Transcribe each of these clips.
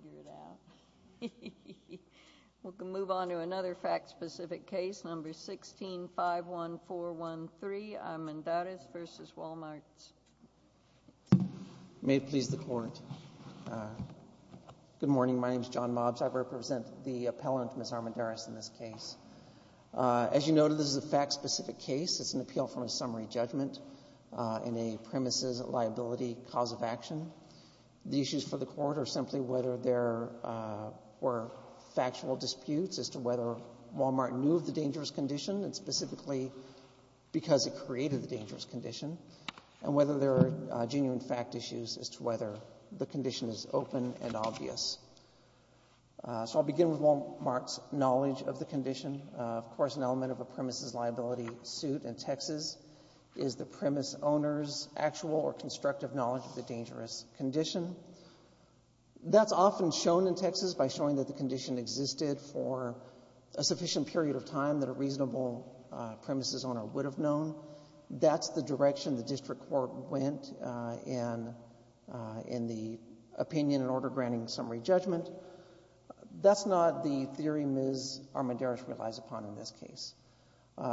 We can move on to another fact-specific case, number 16-51413, Armendariz v. Wal-Mart. May it please the Court. Good morning. My name is John Mobs. I represent the appellant, Ms. Armendariz, in this case. As you noted, this is a fact-specific case. It's an appeal from a summary judgment in a premises liability cause of action. The issues for the Court are simply whether there were factual disputes as to whether Wal-Mart knew of the dangerous condition, and specifically because it created the dangerous condition, and whether there are genuine fact issues as to whether the condition is open and obvious. So I'll begin with Wal-Mart's knowledge of the condition. Of course, an element of a premises liability suit in Texas is the premise owner's factual or constructive knowledge of the dangerous condition. That's often shown in Texas by showing that the condition existed for a sufficient period of time that a reasonable premises owner would have known. That's the direction the district court went in the opinion and order granting summary judgment. That's not the theory Ms. Armendariz relies upon in this case.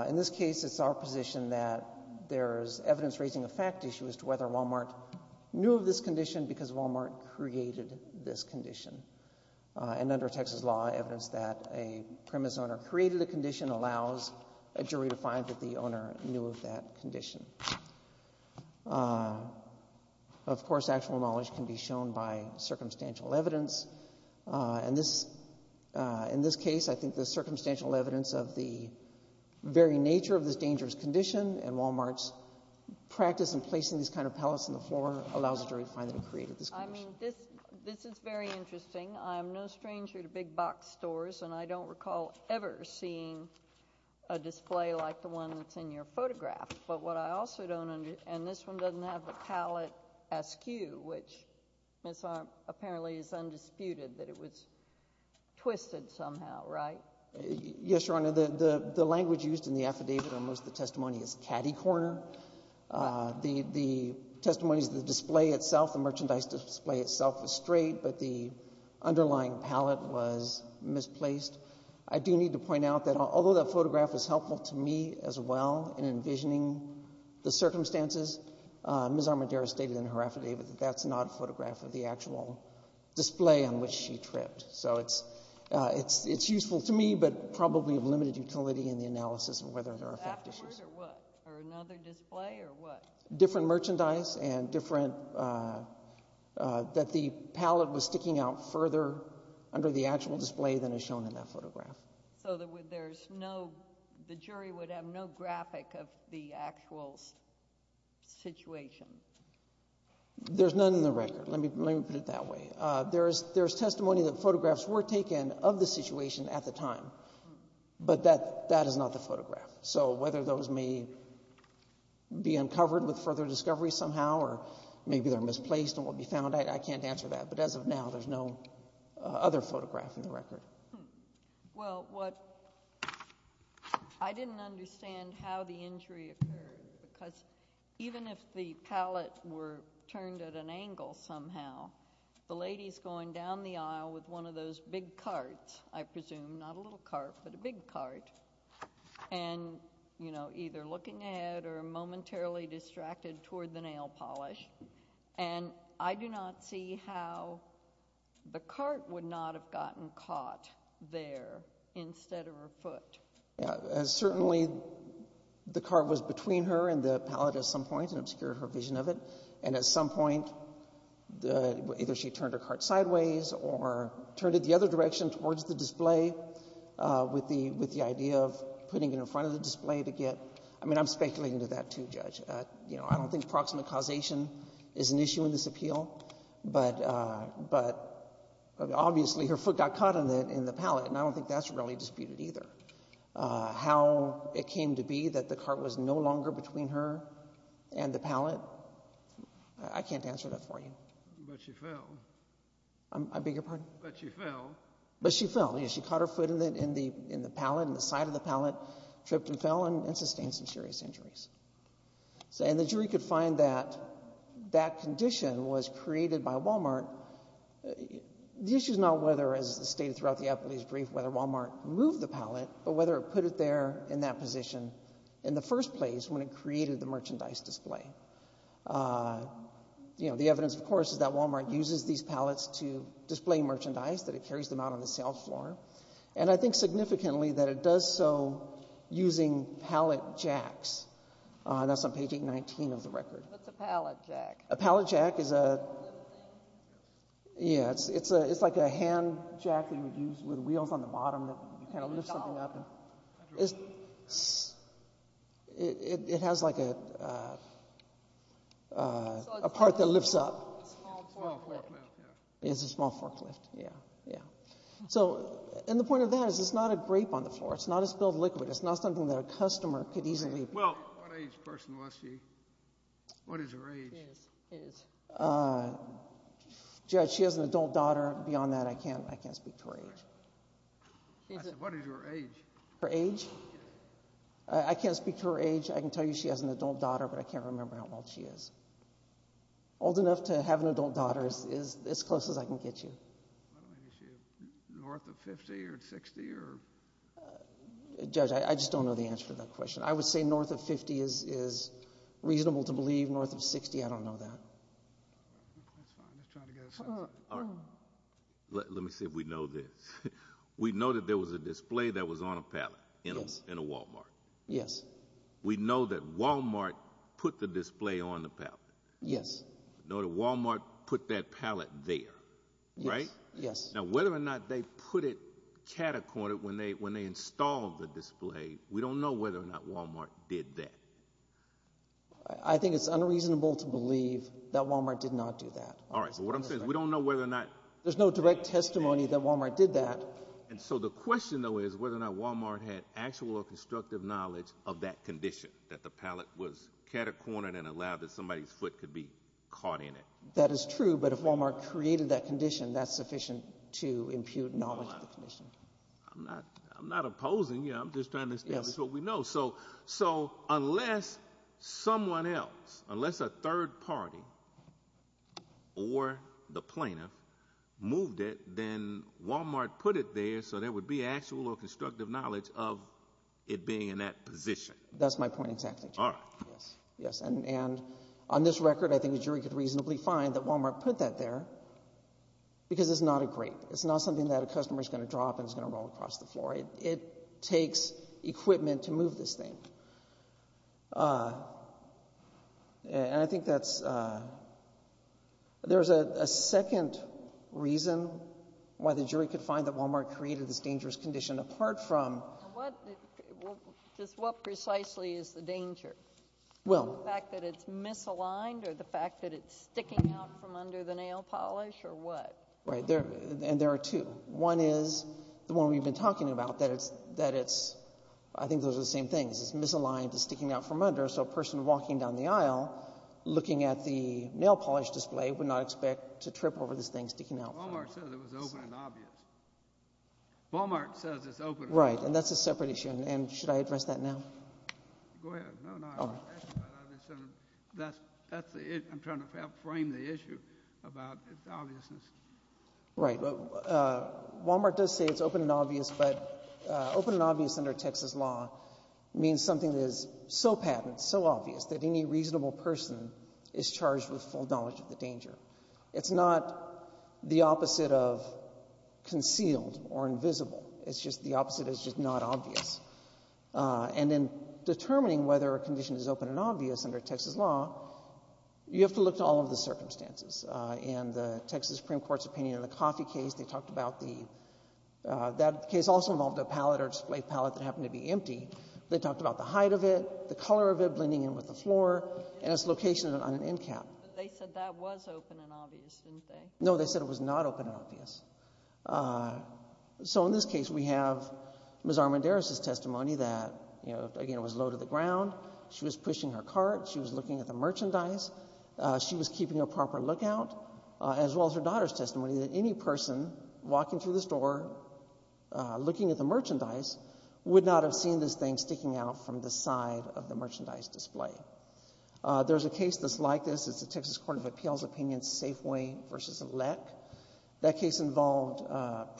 In this case, it's our position that there's evidence raising a fact issue as to whether Wal-Mart knew of this condition because Wal-Mart created this condition. And under Texas law, evidence that a premise owner created a condition allows a jury to find that the owner knew of that condition. Of course, actual knowledge can be shown by circumstantial evidence. In this case, I think the circumstantial evidence of the very nature of this dangerous condition and Wal-Mart's practice in placing these kind of pallets on the floor allows a jury to find that it created this condition. I mean, this is very interesting. I'm no stranger to big box stores, and I don't recall ever seeing a display like the one that's in your photograph. But what I also don't understand, and this one doesn't have the pallet askew, which Ms. Armendariz apparently is undisputed that it was twisted somehow, right? Yes, Your Honor. The language used in the affidavit on most of the testimony is catty corner. The testimony is the display itself, the merchandise display itself is straight, but the underlying pallet was misplaced. I do need to point out that although that photograph is helpful to me as well in envisioning the circumstances, Ms. Armendariz stated in her affidavit that that's not a photograph of the actual display on which she tripped. So it's useful to me, but probably of limited utility in the analysis of whether there are So the jury would have no graphic of the actual situation? There's none in the record. Let me put it that way. There's testimony that photographs were taken of the situation at the time, but that is not the photograph. So whether those may be uncovered with further discovery somehow, or maybe they're misplaced and will be found, I can't answer that. But as of now, there's no other photograph in the record. Well, I didn't understand how the injury occurred, because even if the pallet were turned at an angle somehow, the lady's going down the aisle with one of those big carts, I presume, not a little cart, but a big cart, and either looking ahead or momentarily distracted toward the nail polish. And I do not see how the cart would not have gotten caught there instead of her foot. Certainly the cart was between her and the pallet at some point and obscured her vision of it. And at some point either she turned her cart sideways or turned it the other direction towards the display with the idea of putting it in front of the display to get I mean, I'm speculating to that too, Judge. I don't think proximate causation is an issue in this appeal. But obviously her foot got caught in the pallet, and I don't think that's really disputed either. How it came to be that the cart was no longer between her and the pallet, I can't answer that for you. But she fell. I beg your pardon? But she fell. But she fell. She caught her foot in the pallet, in the side of the pallet, tripped and fell and sustained some serious injuries. And the jury could find that that condition was created by Wal-Mart. The issue is not whether, as stated throughout the appellee's brief, whether Wal-Mart moved the pallet, but whether it put it there in that position in the first place when it created the merchandise display. The evidence, of course, is that Wal-Mart uses these pallets to display merchandise, that it carries them out on the sales floor. And I think significantly that it does so using pallet jacks. That's on page 819 of the record. What's a pallet jack? A pallet jack is a… Yeah, it's like a hand jack that you would use with wheels on the bottom that you kind of lift something up. It has like a part that lifts up. It's a small forklift. It's a small forklift, yeah. So, and the point of that is it's not a grape on the floor. It's not a spilled liquid. It's not something that a customer could easily… Well, what age person was she? What is her age? Judge, she has an adult daughter. Beyond that, I can't speak to her age. What is her age? Her age? I can't speak to her age. I can tell you she has an adult daughter, but I can't remember how old she is. Old enough to have an adult daughter is as close as I can get you. North of 50 or 60 or… Judge, I just don't know the answer to that question. I would say north of 50 is reasonable to believe. North of 60, I don't know that. Let me see if we know this. We know that there was a display that was on a pallet in a Walmart. Yes. We know that Walmart put the display on the pallet. Yes. We know that Walmart put that pallet there, right? Yes. Now, whether or not they put it catacorded when they installed the display, we don't know whether or not Walmart did that. I think it's unreasonable to believe that Walmart did not do that. All right, but what I'm saying is we don't know whether or not… There's no direct testimony that Walmart did that. The question, though, is whether or not Walmart had actual or constructive knowledge of that condition, that the pallet was catacorded and allowed that somebody's foot could be caught in it. That is true, but if Walmart created that condition, that's sufficient to impute knowledge of the condition. I'm not opposing. I'm just trying to establish what we know. Unless someone else, unless a third party or the plaintiff moved it, then Walmart put it there so there would be actual or constructive knowledge of it being in that position. That's my point exactly. All right. Yes, and on this record, I think the jury could reasonably find that Walmart put that there because it's not a grate. It's not something that a customer is going to drop and it's going to roll across the floor. It takes equipment to move this thing. I think there's a second reason why the jury could find that Walmart created this dangerous condition apart from… What precisely is the danger? The fact that it's misaligned or the fact that it's sticking out from under the nail polish or what? Right, and there are two. One is the one we've been talking about, that it's… I think those are the same things. It's misaligned. It's sticking out from under. So a person walking down the aisle looking at the nail polish display would not expect to trip over this thing sticking out. Walmart says it was open and obvious. Walmart says it's open and obvious. Right, and that's a separate issue. And should I address that now? Go ahead. No, no. That's the issue. I'm trying to frame the issue about its obviousness. Right. Walmart does say it's open and obvious, but open and obvious under Texas law means something that is so patent, so obvious, that any reasonable person is charged with full knowledge of the danger. It's not the opposite of concealed or invisible. It's just the opposite. It's just not obvious. And in determining whether a condition is open and obvious under Texas law, you have to look to all of the circumstances. In the Texas Supreme Court's opinion on the coffee case, they talked about the – that case also involved a palette or display palette that happened to be empty. They talked about the height of it, the color of it blending in with the floor, and its location on an end cap. But they said that was open and obvious, didn't they? No, they said it was not open and obvious. So in this case, we have Ms. Armendariz's testimony that, again, it was low to the ground. She was pushing her cart. She was looking at the merchandise. She was keeping a proper lookout, as well as her daughter's testimony, that any person walking through the store looking at the merchandise would not have seen this thing sticking out from the side of the merchandise display. There's a case that's like this. It's the Texas Court of Appeals' opinion, Safeway v. Leck. That case involved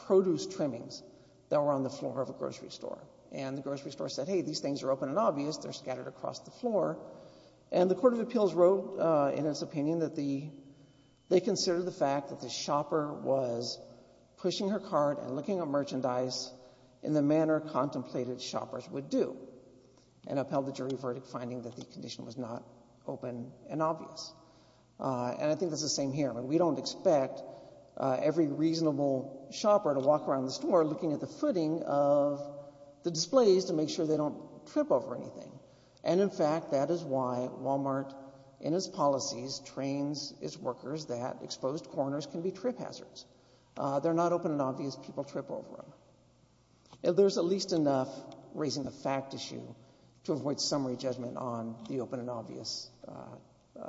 produce trimmings that were on the floor of a grocery store. And the grocery store said, hey, these things are open and obvious. They're scattered across the floor. And the Court of Appeals wrote, in its opinion, that they considered the fact that the shopper was pushing her cart and looking at merchandise in the manner contemplated shoppers would do and upheld the jury verdict finding that the condition was not open and obvious. And I think that's the same here. We don't expect every reasonable shopper to walk around the store looking at the footing of the displays to make sure they don't trip over anything. And, in fact, that is why Walmart, in its policies, trains its workers that exposed corners can be trip hazards. They're not open and obvious. People trip over them. There's at least enough raising the fact issue to avoid summary judgment on the open and obvious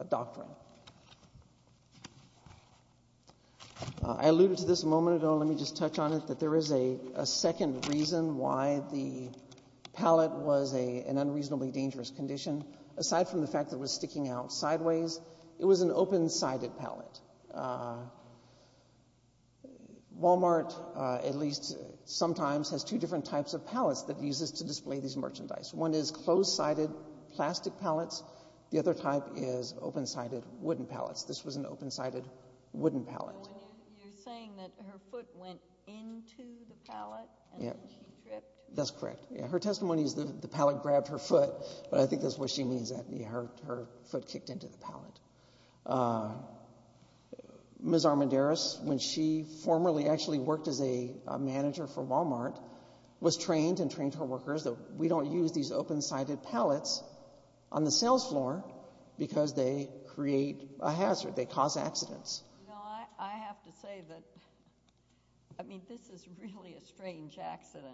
doctrine. I alluded to this a moment ago. Let me just touch on it, that there is a second reason why the pallet was an unreasonably dangerous condition. Aside from the fact that it was sticking out sideways, it was an open-sided pallet. Walmart, at least sometimes, has two different types of pallets that it uses to display these merchandise. One is closed-sided plastic pallets. The other type is open-sided wooden pallets. This was an open-sided wooden pallet. You're saying that her foot went into the pallet and then she tripped? That's correct. Her testimony is the pallet grabbed her foot, but I think that's what she means, that her foot kicked into the pallet. Ms. Armendariz, when she formerly actually worked as a manager for Walmart, was trained and trained her workers that we don't use these open-sided pallets on the sales floor because they create a hazard, they cause accidents. I have to say that this is really a strange accident.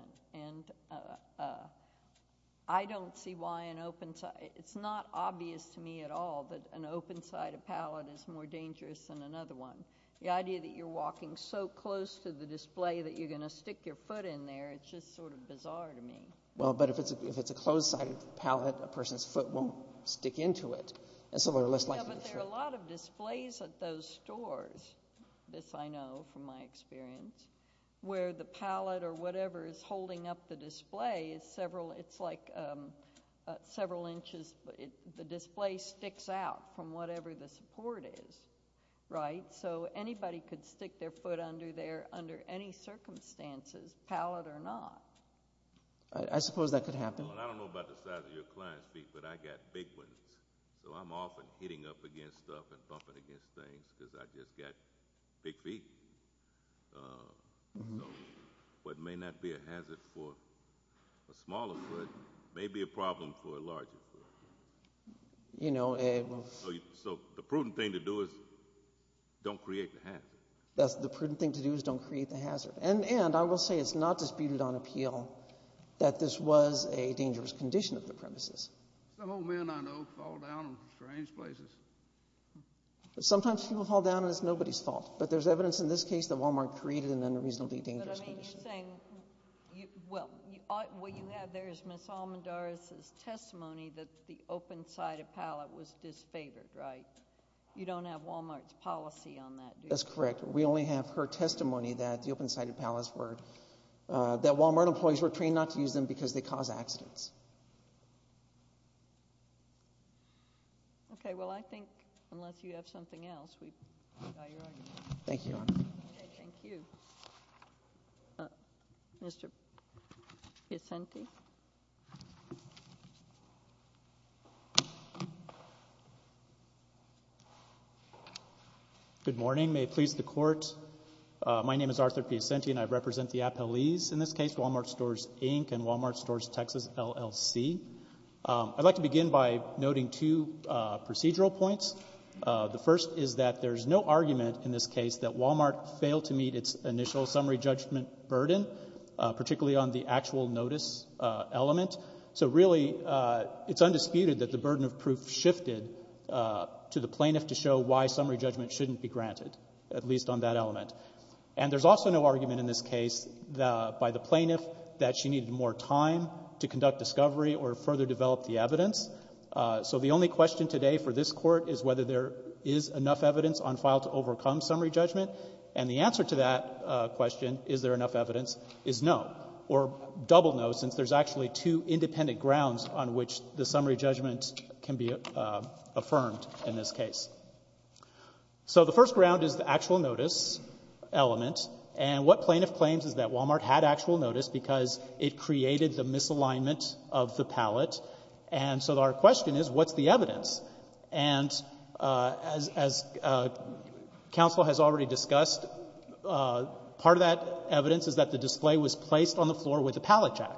It's not obvious to me at all that an open-sided pallet is more dangerous than another one. The idea that you're walking so close to the display that you're going to stick your foot in there, it's just sort of bizarre to me. But if it's a closed-sided pallet, a person's foot won't stick into it. But there are a lot of displays at those stores, this I know from my experience, where the pallet or whatever is holding up the display. It's like several inches. The display sticks out from whatever the support is, right? So anybody could stick their foot under there under any circumstances, pallet or not. I suppose that could happen. I don't know about the size of your client's feet, but I've got big ones. So I'm often hitting up against stuff and bumping against things because I've just got big feet. What may not be a hazard for a smaller foot may be a problem for a larger foot. So the prudent thing to do is don't create the hazard. The prudent thing to do is don't create the hazard. And I will say it's not disputed on appeal that this was a dangerous condition of the premises. Some old men I know fall down in strange places. Sometimes people fall down, and it's nobody's fault. But there's evidence in this case that Walmart created an unreasonably dangerous condition. But I mean you're saying, well, what you have there is Ms. Almendaris' testimony that the open-sided pallet was disfavored, right? You don't have Walmart's policy on that, do you? That's correct. We only have her testimony that the open-sided pallets were – that Walmart employees were trained not to use them because they cause accidents. Okay. Well, I think unless you have something else, we've got your argument. Thank you, Your Honor. Okay. Thank you. Mr. Piacenti? Good morning. May it please the Court. My name is Arthur Piacenti, and I represent the appellees in this case, Walmart Stores, Inc. and Walmart Stores, Texas, LLC. I'd like to begin by noting two procedural points. The first is that there's no argument in this case that Walmart failed to meet its initial summary judgment burden, particularly on the actual notice element. So really, it's undisputed that the burden of proof shifted to the plaintiff to show why summary judgment shouldn't be granted, at least on that element. And there's also no argument in this case by the plaintiff that she needed more time to conduct discovery or further develop the evidence. So the only question today for this Court is whether there is enough evidence on file to overcome summary judgment. And the answer to that question, is there enough evidence, is no, or double no, since there's actually two independent grounds on which the summary judgment can be affirmed in this case. So the first ground is the actual notice element. And what plaintiff claims is that Walmart had actual notice because it created the misalignment of the palette. And so our question is, what's the evidence? And as counsel has already discussed, part of that evidence is that the display was placed on the floor with a palette jack.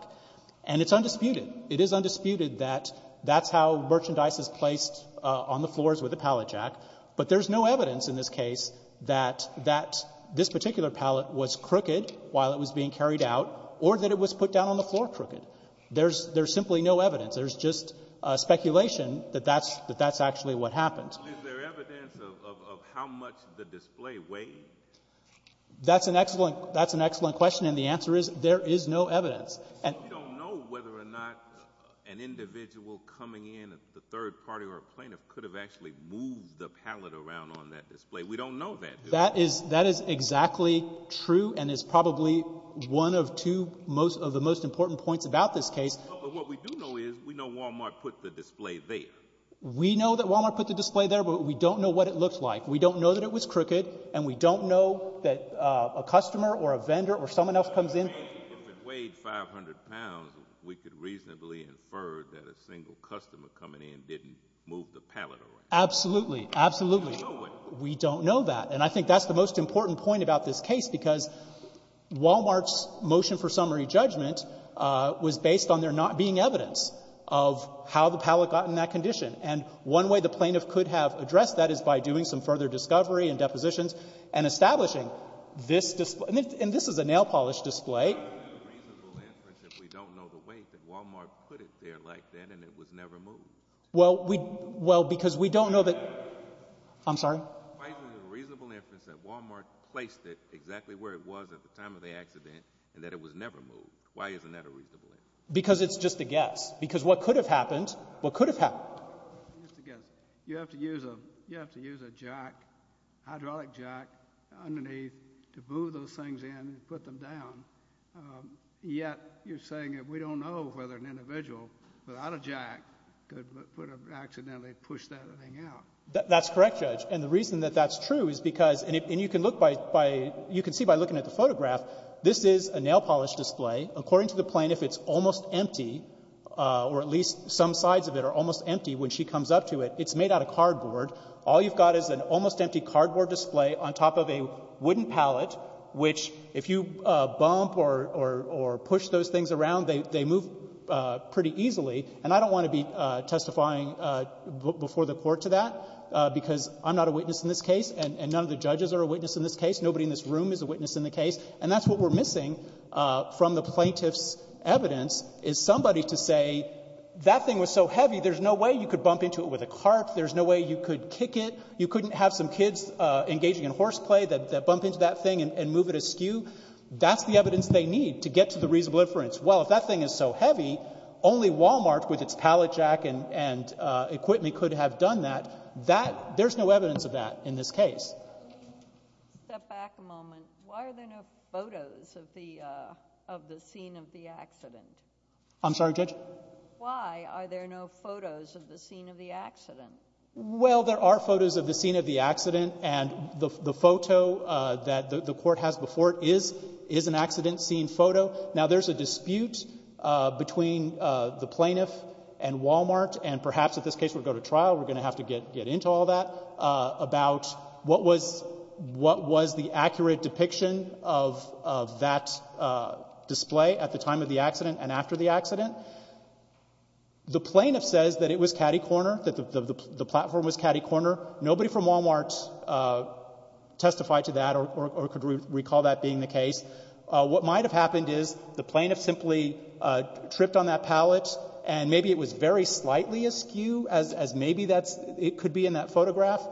And it's undisputed. It is undisputed that that's how merchandise is placed on the floors with a palette jack, but there's no evidence in this case that that this particular palette was crooked while it was being carried out or that it was put down on the floor crooked. There's simply no evidence. There's just speculation that that's actually what happened. Is there evidence of how much the display weighed? That's an excellent question. And the answer is there is no evidence. We don't know whether or not an individual coming in, the third party or a plaintiff, could have actually moved the palette around on that display. We don't know that. That is exactly true and is probably one of two most of the most important points about this case. But what we do know is we know Walmart put the display there. We know that Walmart put the display there, but we don't know what it looked like. We don't know that it was crooked, and we don't know that a customer or a vendor or someone else comes in. If it weighed 500 pounds, we could reasonably infer that a single customer coming in didn't move the palette around. Absolutely. Absolutely. We don't know it. We don't know that. And I think that's the most important point about this case, because Walmart's not being evidence of how the palette got in that condition. And one way the plaintiff could have addressed that is by doing some further discovery and depositions and establishing this display. And this is a nail-polish display. Why is it a reasonable inference if we don't know the weight that Walmart put it there like that and it was never moved? Well, we — well, because we don't know that — I'm sorry? Why is it a reasonable inference that Walmart placed it exactly where it was at the time of the accident and that it was never moved? Why isn't that a reasonable inference? Because it's just a guess. Because what could have happened — what could have happened? It's just a guess. You have to use a — you have to use a jack, hydraulic jack, underneath to move those things in and put them down, yet you're saying that we don't know whether an individual without a jack could put a — accidentally push that thing out. That's correct, Judge. And the reason that that's true is because — and you can look by — you can see by looking at the photograph, this is a nail-polish display. According to the plaintiff, it's almost empty, or at least some sides of it are almost empty when she comes up to it. It's made out of cardboard. All you've got is an almost empty cardboard display on top of a wooden pallet, which if you bump or push those things around, they move pretty easily. And I don't want to be testifying before the Court to that, because I'm not a witness in this case, and none of the judges are a witness in this case. Nobody in this room is a witness in the case. And that's what we're missing from the plaintiff's evidence, is somebody to say, that thing was so heavy, there's no way you could bump into it with a cart. There's no way you could kick it. You couldn't have some kids engaging in horseplay that bump into that thing and move it askew. That's the evidence they need to get to the reasonable inference. Well, if that thing is so heavy, only Walmart with its pallet jack and — and equipment could have done that. That — there's no evidence of that in this case. Step back a moment. Why are there no photos of the — of the scene of the accident? I'm sorry, Judge? Why are there no photos of the scene of the accident? Well, there are photos of the scene of the accident, and the photo that the Court has before it is — is an accident scene photo. Now, there's a dispute between the plaintiff and Walmart, and perhaps in this case we'll go to trial, we're going to have to get into all that, about what was — what was the accurate depiction of — of that display at the time of the accident and after the accident. The plaintiff says that it was catty-corner, that the platform was catty-corner. Nobody from Walmart testified to that or could recall that being the case. What might have happened is the plaintiff simply tripped on that pallet, and maybe it was very slightly askew as — as maybe that's — it could be in that photograph,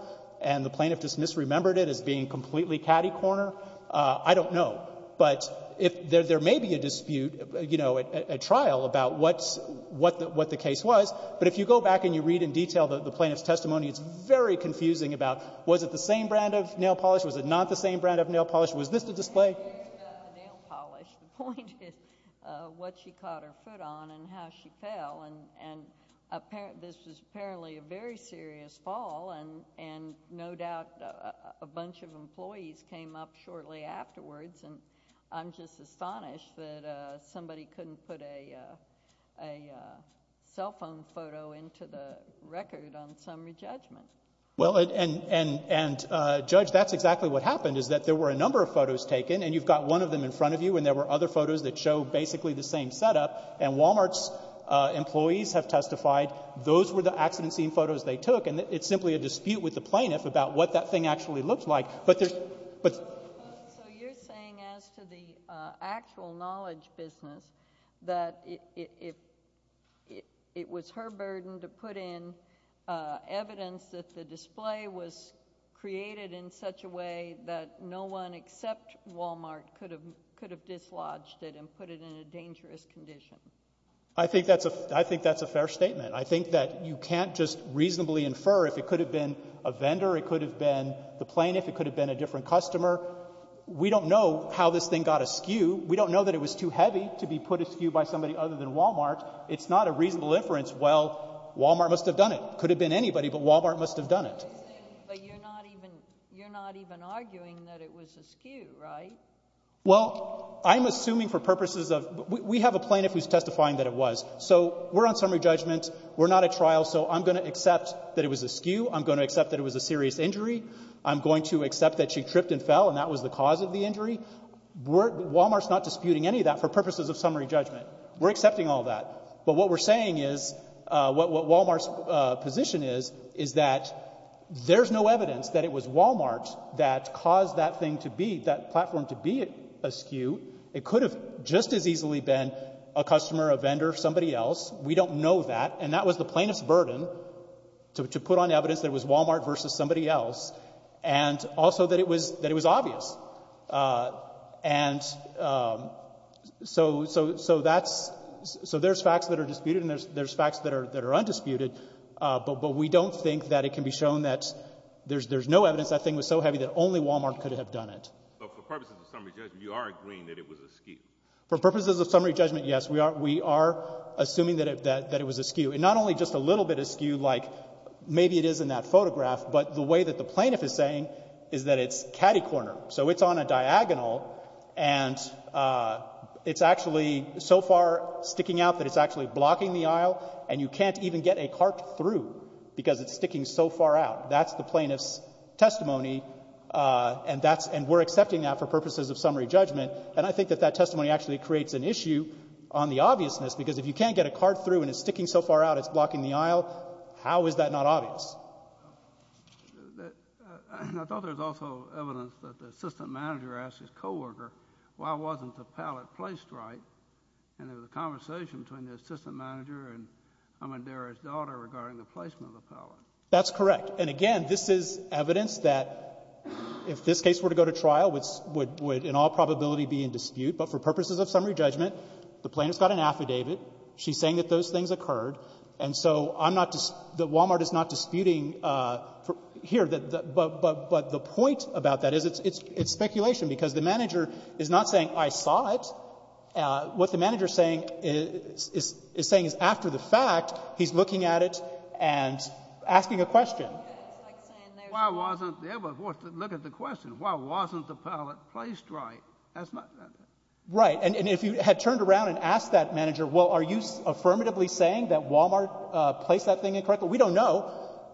and the plaintiff just misremembered it as being completely catty-corner. I don't know. But if — there may be a dispute, you know, at trial about what's — what the — what the case was, but if you go back and you read in detail the plaintiff's testimony, it's very confusing about was it the same brand of nail polish, was it not the same brand of nail polish, was this the display? The point is what she caught her foot on and how she fell, and — and this was apparently a very serious fall, and — and no doubt a bunch of employees came up shortly afterwards, and I'm just astonished that somebody couldn't put a — a cell phone photo into the record on summary judgment. Well, and — and — and, Judge, that's exactly what happened, is that there were a number of photos taken, and you've got one of them in front of you, and there were other photos that show basically the same setup, and Walmart's employees have testified those were the accident scene photos they took, and it's simply a dispute with the plaintiff about what that thing actually looked like. But there's — but — So you're saying, as to the actual knowledge business, that it — it — it was her burden to put in evidence that the display was created in such a way that no one except Walmart could have — could have dislodged it and put it in a dangerous condition? I think that's a — I think that's a fair statement. I think that you can't just reasonably infer if it could have been a vendor, it could have been the plaintiff, it could have been a different customer. We don't know how this thing got askew. We don't know that it was too heavy to be put askew by somebody other than Walmart. It's not a reasonable inference, well, Walmart must have done it. Could have been anybody, but Walmart must have done it. But you're not even — you're not even arguing that it was askew, right? Well, I'm assuming for purposes of — we have a plaintiff who's testifying that it was. So we're on summary judgment. We're not at trial, so I'm going to accept that it was askew. I'm going to accept that it was a serious injury. I'm going to accept that she tripped and fell, and that was the cause of the injury. We're — Walmart's not disputing any of that for purposes of summary judgment. We're accepting all that. But what we're saying is — what Walmart's position is, is that there's no evidence that it was Walmart that caused that thing to be — that platform to be askew. It could have just as easily been a customer, a vendor, somebody else. We don't know that. And that was the plaintiff's burden, to put on evidence that it was Walmart versus somebody else, and also that it was — that it was obvious. And so that's — so there's facts that are disputed and there's facts that are undisputed, but we don't think that it can be shown that there's no evidence that thing was so heavy that only Walmart could have done it. But for purposes of summary judgment, you are agreeing that it was askew. For purposes of summary judgment, yes, we are assuming that it was askew. And not only just a little bit askew, like maybe it is in that photograph, but the way that the plaintiff is saying is that it's catty-corner. So it's on a diagonal, and it's actually so far sticking out that it's actually blocking the aisle, and you can't even get a cart through because it's sticking so far out. That's the plaintiff's testimony, and that's — and we're accepting that for purposes of summary judgment. And I think that that testimony actually creates an issue on the obviousness, because if you can't get a cart through and it's sticking so far out, it's blocking the aisle, how is that not obvious? I thought there was also evidence that the assistant manager asked his coworker why wasn't the pallet placed right? And there was a conversation between the assistant manager and Amadera's daughter regarding the placement of the pallet. That's correct. And again, this is evidence that if this case were to go to trial, it would in all probability be in dispute. But for purposes of summary judgment, the plaintiff's got an affidavit. She's saying that those things occurred. And so I'm not — that Walmart is not disputing here, but the point about that is it's speculation because the manager is not saying, I saw it. What the manager is saying is after the fact, he's looking at it and asking a question. It's like saying there's — Why wasn't — look at the question. Why wasn't the pallet placed right? That's not — Right. And if you had turned around and asked that manager, well, are you affirmatively saying that Walmart placed that thing in correctly? We don't know.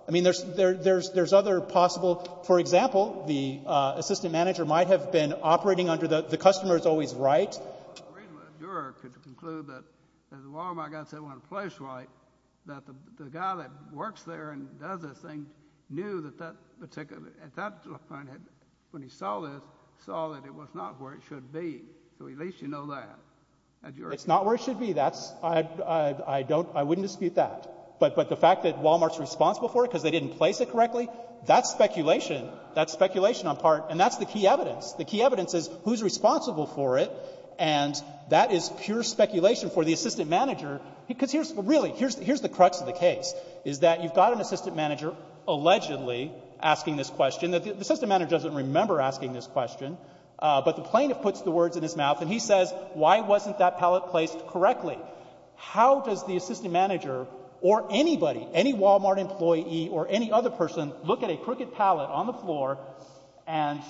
I mean, there's other possible — for example, the assistant manager might have been operating under the customer is always right. Amadera could conclude that the Walmart guy said it wasn't placed right, that the guy that works there and does this thing knew that that particular — at that point, when he saw this, saw that it was not where it should be. So at least you know that. It's not where it should be. That's — I don't — I wouldn't dispute that. But the fact that Walmart's responsible for it because they didn't place it correctly, that's speculation. That's speculation on part. And that's the key evidence. The key evidence is who's responsible for it, and that is pure speculation for the assistant manager, because here's — really, here's the crux of the case, is that you've got an assistant manager allegedly asking this question. The assistant manager doesn't remember asking this question, but the plaintiff puts the words in his mouth, and he says, why wasn't that pallet placed correctly? How does the assistant manager or anybody, any Walmart employee or any other person, look at a crooked pallet on the floor and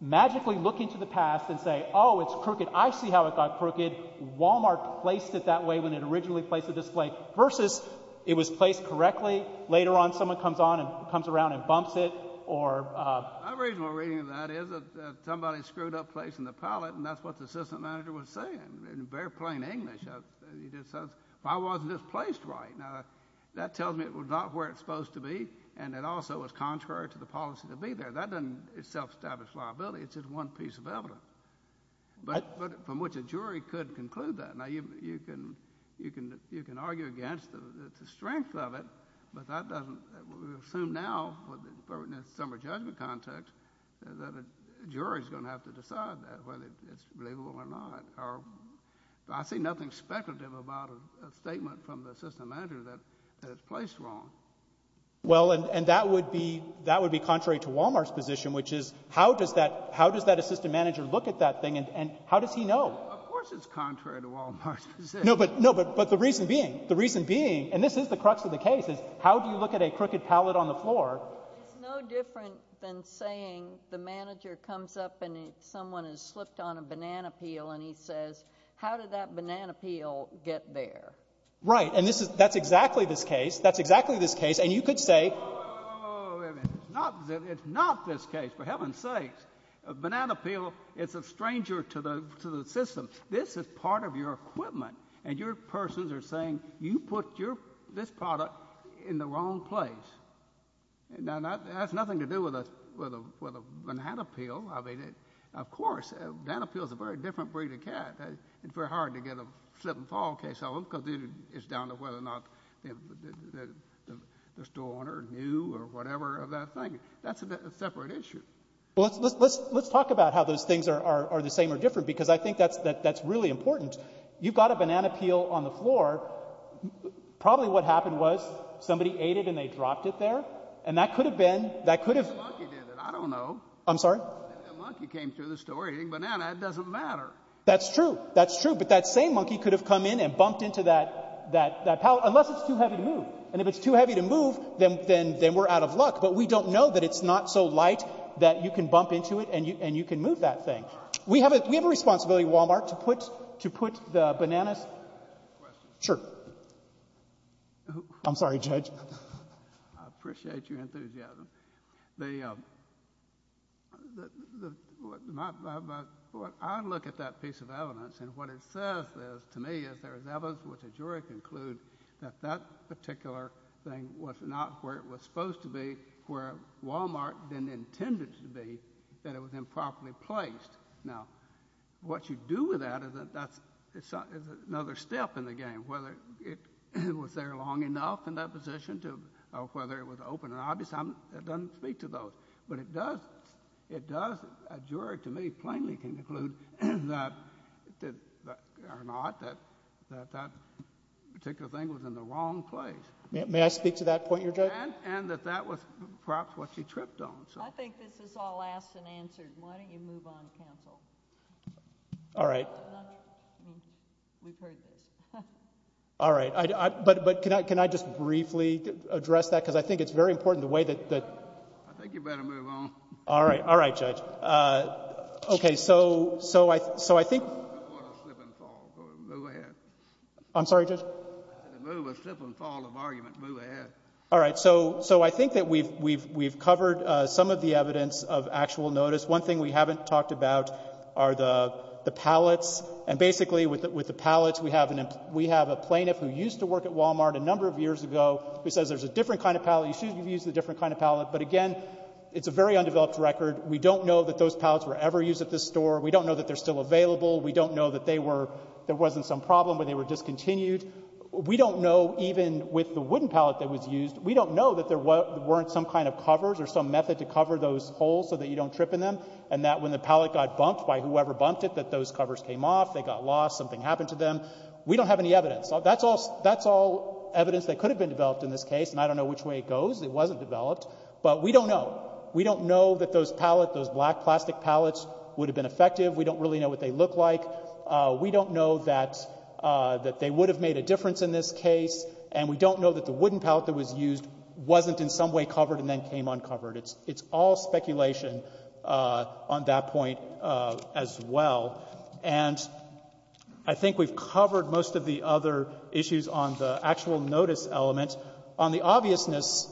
magically look into the past and say, oh, it's crooked. I see how it got crooked. Walmart placed it that way when it originally placed the display, versus it was placed correctly later on. Someone comes on and comes around and bumps it or — My reasonable reading of that is that somebody screwed up placing the pallet, and that's what the assistant manager was saying, in very plain English. He just says, why wasn't this placed right? Now, that tells me it was not where it's supposed to be, and it also was contrary to the policy to be there. That doesn't self-establish liability. It's just one piece of evidence from which a jury could conclude that. Now, you can argue against the strength of it, but that doesn't — we assume now, in a summary judgment context, that a jury's going to have to decide that, whether it's believable or not. I see nothing speculative about a statement from the assistant manager that it's placed wrong. Well, and that would be contrary to Walmart's position, which is, how does that assistant manager look at that thing, and how does he know? Of course it's contrary to Walmart's position. No, but the reason being — the reason being, and this is the crux of the case, is how do you look at a crooked pallet on the floor? It's no different than saying the manager comes up and someone has slipped on a banana peel, and he says, how did that banana peel get there? Right. And this is — that's exactly this case. That's exactly this case. And you could say — Whoa, whoa, whoa. Wait a minute. It's not this case. For heaven's sakes. A banana peel, it's a stranger to the system. This is part of your equipment. And your persons are saying you put your — this product in the wrong place. Now, that has nothing to do with a banana peel. I mean, of course, a banana peel is a very different breed of cat. It's very hard to get a slip and fall case on them because it's down to whether or not the store owner knew or whatever of that thing. That's a separate issue. Well, let's talk about how those things are the same or different because I think that's really important. You've got a banana peel on the floor. Probably what happened was somebody ate it and they dropped it there, and that could have been — that could have — The monkey did it. I don't know. I'm sorry? The monkey came through the store eating banana. It doesn't matter. That's true. That's true. But that same monkey could have come in and bumped into that pallet unless it's too heavy to move. And if it's too heavy to move, then we're out of luck. But we don't know that it's not so light that you can bump into it and you can move that thing. We have a responsibility at Walmart to put the bananas — Can I ask a question? Sure. I'm sorry, Judge. I appreciate your enthusiasm. The — I look at that piece of evidence, and what it says is, to me, is there is evidence which a jury can conclude that that particular thing was not where it was supposed to be, where Walmart didn't intend it to be, that it was improperly placed. Now, what you do with that is another step in the game. Whether it was there long enough in that position to — or whether it was open and obvious, it doesn't speak to those. But it does, a jury, to me, plainly can conclude that — or not, that that particular thing was in the wrong place. May I speak to that point, Your Judge? And that that was perhaps what you tripped on. I think this is all asked and answered. Why don't you move on, counsel? All right. We've heard this. All right. But can I just briefly address that? Because I think it's very important, the way that — I think you better move on. All right. All right, Judge. Okay. So I think — You want a slip and fall. Go ahead. I'm sorry, Judge? If you want a slip and fall of argument, move ahead. All right. So I think that we've covered some of the evidence of actual notice. One thing we haven't talked about are the pallets. And basically, with the pallets, we have a plaintiff who used to work at Walmart a number of years ago who says there's a different kind of pallet. You should have used a different kind of pallet. But again, it's a very undeveloped record. We don't know that those pallets were ever used at this store. We don't know that they're still available. We don't know that they were — there wasn't some problem where they were discontinued. We don't know, even with the wooden pallet that was used, we don't know that there weren't some kind of covers or some method to cover those holes so that you don't trip in them and that when the pallet got bumped by whoever bumped it, that those covers came off. They got lost. Something happened to them. We don't have any evidence. That's all evidence that could have been developed in this case, and I don't know which way it goes. It wasn't developed. But we don't know. We don't know that those pallets, those black plastic pallets, would have been effective. We don't really know what they look like. We don't know that they would have made a difference in this case. And we don't know that the wooden pallet that was used wasn't in some way covered and then came uncovered. It's all speculation on that point as well. And I think we've covered most of the other issues on the actual notice element. On the obviousness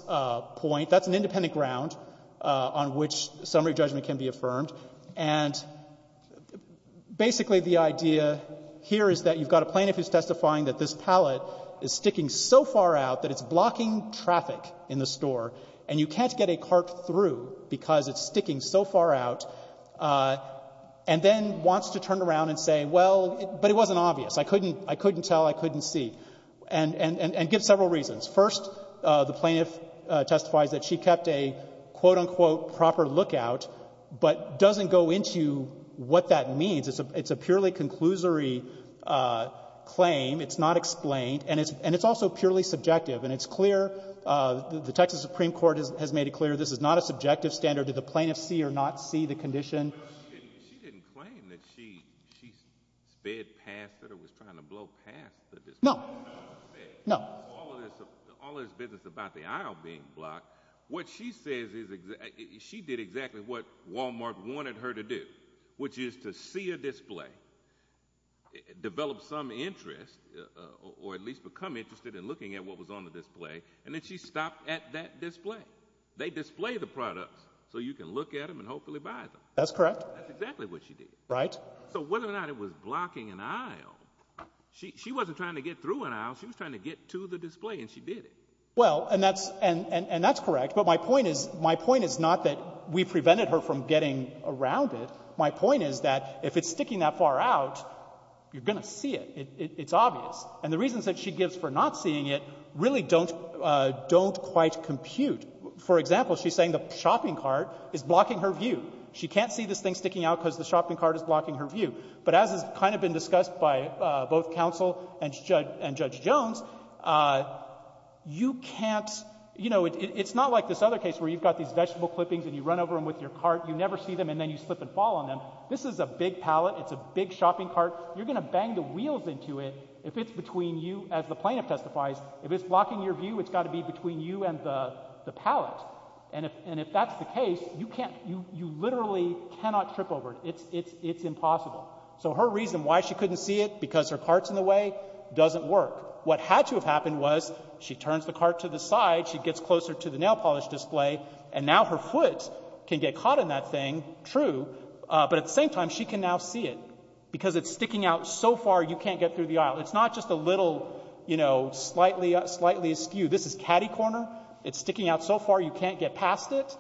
point, that's an independent ground on which summary judgment can be affirmed. And basically the idea here is that you've got a plaintiff who's testifying that this pallet is sticking so far out that it's blocking traffic in the store and you can't get a cart through because it's sticking so far out, and then wants to turn around and say, well, but it wasn't obvious. I couldn't tell. I couldn't see. And give several reasons. First, the plaintiff testifies that she kept a, quote, unquote, proper lookout, but doesn't go into what that means. It's a purely conclusory claim. It's not explained. And it's also purely subjective. And it's clear, the Texas Supreme Court has made it clear, this is not a subjective standard. Did the plaintiff see or not see the condition? She didn't claim that she sped past it or was trying to blow past it. No. No. All this business about the aisle being blocked, what she says is she did exactly what Walmart wanted her to do, which is to see a display, develop some interest, or at least become interested in looking at what was on the display, and then she stopped at that display. They display the products so you can look at them and hopefully buy them. That's correct. That's exactly what she did. Right. So whether or not it was blocking an aisle, she wasn't trying to get through an aisle. She was trying to get to the display, and she did it. Well, and that's correct. But my point is not that we prevented her from getting around it. My point is that if it's sticking that far out, you're going to see it. It's obvious. And the reasons that she gives for not seeing it really don't quite compute. For example, she's saying the shopping cart is blocking her view. She can't see this thing sticking out because the shopping cart is blocking her view. But as has kind of been discussed by both counsel and Judge Jones, you can't, you know, it's not like this other case where you've got these vegetable clippings and you run over them with your cart, you never see them, and then you slip and fall on them. This is a big pallet. It's a big shopping cart. You're going to bang the wheels into it if it's between you, as the plaintiff testifies. If it's blocking your view, it's got to be between you and the pallet. And if that's the case, you literally cannot trip over it. It's impossible. So her reason why she couldn't see it, because her cart's in the way, doesn't work. What had to have happened was she turns the cart to the side, she gets closer to the nail polish display, and now her foot can get caught in that thing, true, but at the same time she can now see it because it's sticking out so far you can't get through the aisle. It's not just a little, you know, slightly askew. This is catty corner. It's sticking out so far you can't get past it.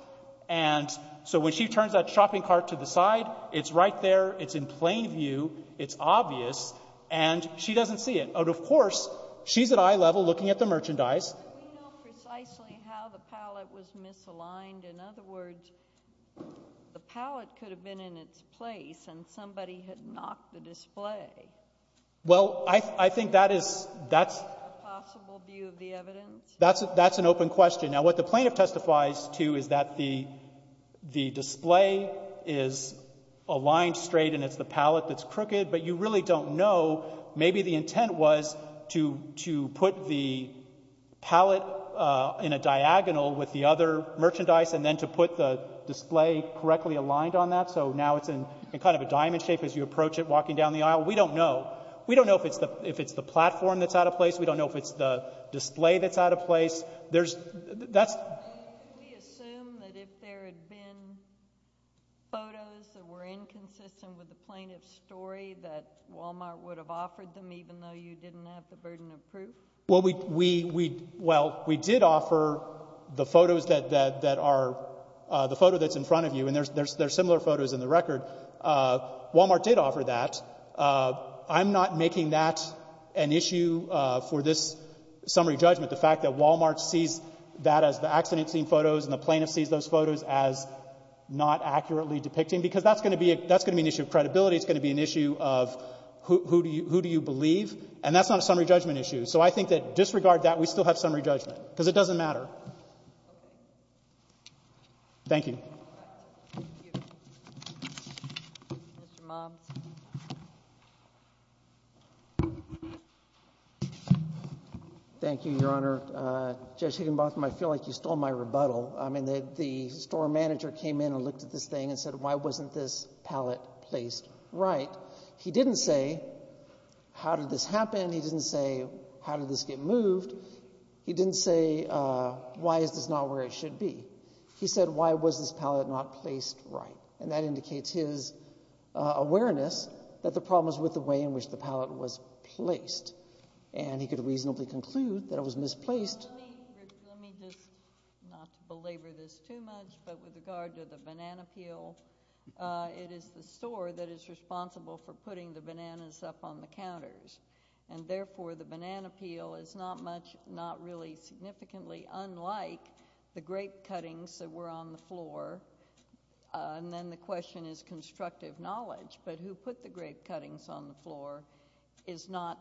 And so when she turns that shopping cart to the side, it's right there, it's in plain view, it's obvious, and she doesn't see it. Of course, she's at eye level looking at the merchandise. Do we know precisely how the pallet was misaligned? In other words, the pallet could have been in its place, and somebody had knocked the display. Well, I think that is— Is that a possible view of the evidence? That's an open question. Now what the plaintiff testifies to is that the display is aligned straight and it's the pallet that's crooked, but you really don't know. Maybe the intent was to put the pallet in a diagonal with the other merchandise and then to put the display correctly aligned on that so now it's in kind of a diamond shape as you approach it walking down the aisle. We don't know. We don't know if it's the platform that's out of place. We don't know if it's the display that's out of place. Could we assume that if there had been photos that were inconsistent with the plaintiff's story that Walmart would have offered them even though you didn't have the burden of proof? Well, we did offer the photos that are—the photo that's in front of you, and there's similar photos in the record. Walmart did offer that. I'm not making that an issue for this summary judgment, but the fact that Walmart sees that as the accident scene photos and the plaintiff sees those photos as not accurately depicting, because that's going to be an issue of credibility. It's going to be an issue of who do you believe, and that's not a summary judgment issue. So I think that disregard that, we still have summary judgment because it doesn't matter. Thank you. Mr. Moms. Thank you, Your Honor. Judge Higginbotham, I feel like you stole my rebuttal. I mean, the store manager came in and looked at this thing and said, why wasn't this palette placed right? He didn't say, how did this happen? He didn't say, how did this get moved? He didn't say, why is this not where it should be? He said, why was this palette not placed right? And that indicates his awareness that the problem is with the way in which the palette was placed. And he could reasonably conclude that it was misplaced. Let me just, not to belabor this too much, but with regard to the banana peel, it is the store that is responsible for putting the bananas up on the counters. And therefore, the banana peel is not much, not really significantly unlike the grape cuttings that were on the floor. And then the question is constructive knowledge. But who put the grape cuttings on the floor is not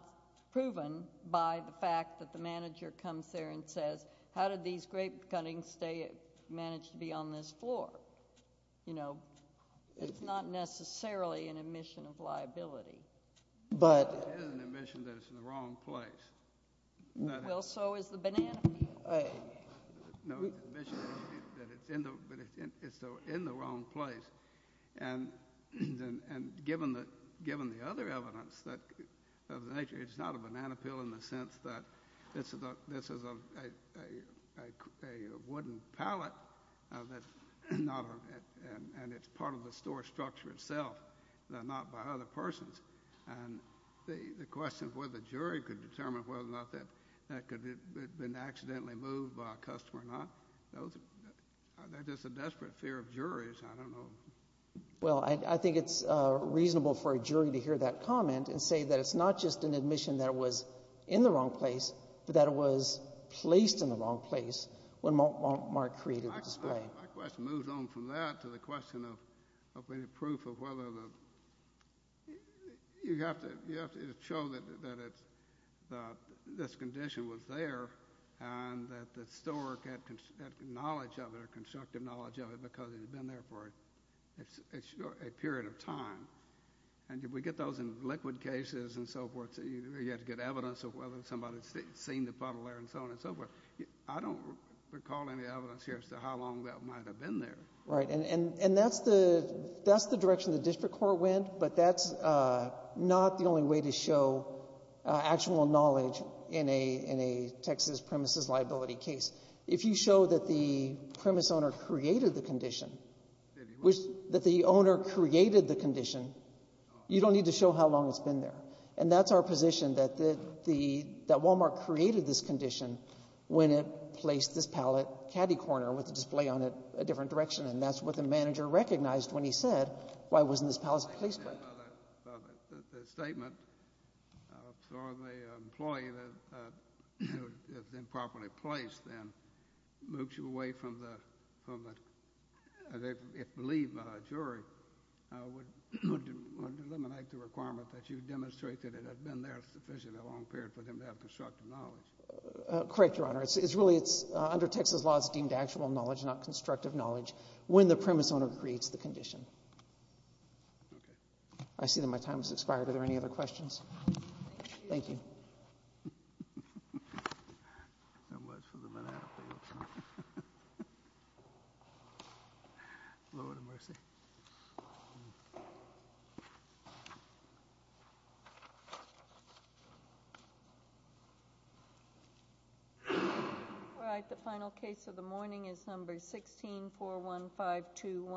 proven by the fact that the manager comes there and says, how did these grape cuttings manage to be on this floor? You know, it's not necessarily an admission of liability. But it is an admission that it's in the wrong place. Well, so is the banana peel. No, it's an admission that it's in the wrong place. And given the other evidence of the nature, it's not a banana peel in the sense that this is a wooden palette and it's part of the store structure itself, not by other persons. And the question of whether the jury could determine whether or not that could have been accidentally moved by a customer or not, that's just a desperate fear of juries. I don't know. Well, I think it's reasonable for a jury to hear that comment and say that it's not just an admission that it was in the wrong place, but that it was placed in the wrong place when Mark created the display. My question moves on from that to the question of any proof of whether the – you have to show that this condition was there and that the store had knowledge of it or constructive knowledge of it because it had been there for a period of time. And if we get those in liquid cases and so forth, you have to get evidence of whether somebody had seen the puddle there and so on and so forth. I don't recall any evidence here as to how long that might have been there. Right. And that's the direction the district court went, but that's not the only way to show actual knowledge in a Texas premises liability case. If you show that the premise owner created the condition, that the owner created the condition, you don't need to show how long it's been there. And that's our position, that Wal-Mart created this condition when it placed this pallet caddy corner with the display on it a different direction, and that's what the manager recognized when he said, why wasn't this pallet placed right? The statement from the employee that it was improperly placed then moves you away from the – it believed the jury would eliminate the requirement that you demonstrate that it had been there sufficiently long period for them to have constructive knowledge. Correct, Your Honor. It's really – under Texas law, it's deemed actual knowledge, not constructive knowledge, when the premise owner creates the condition. Okay. I see that my time has expired. Are there any other questions? Thank you. Thank you. All right, the final case of the morning is number 16, 41521.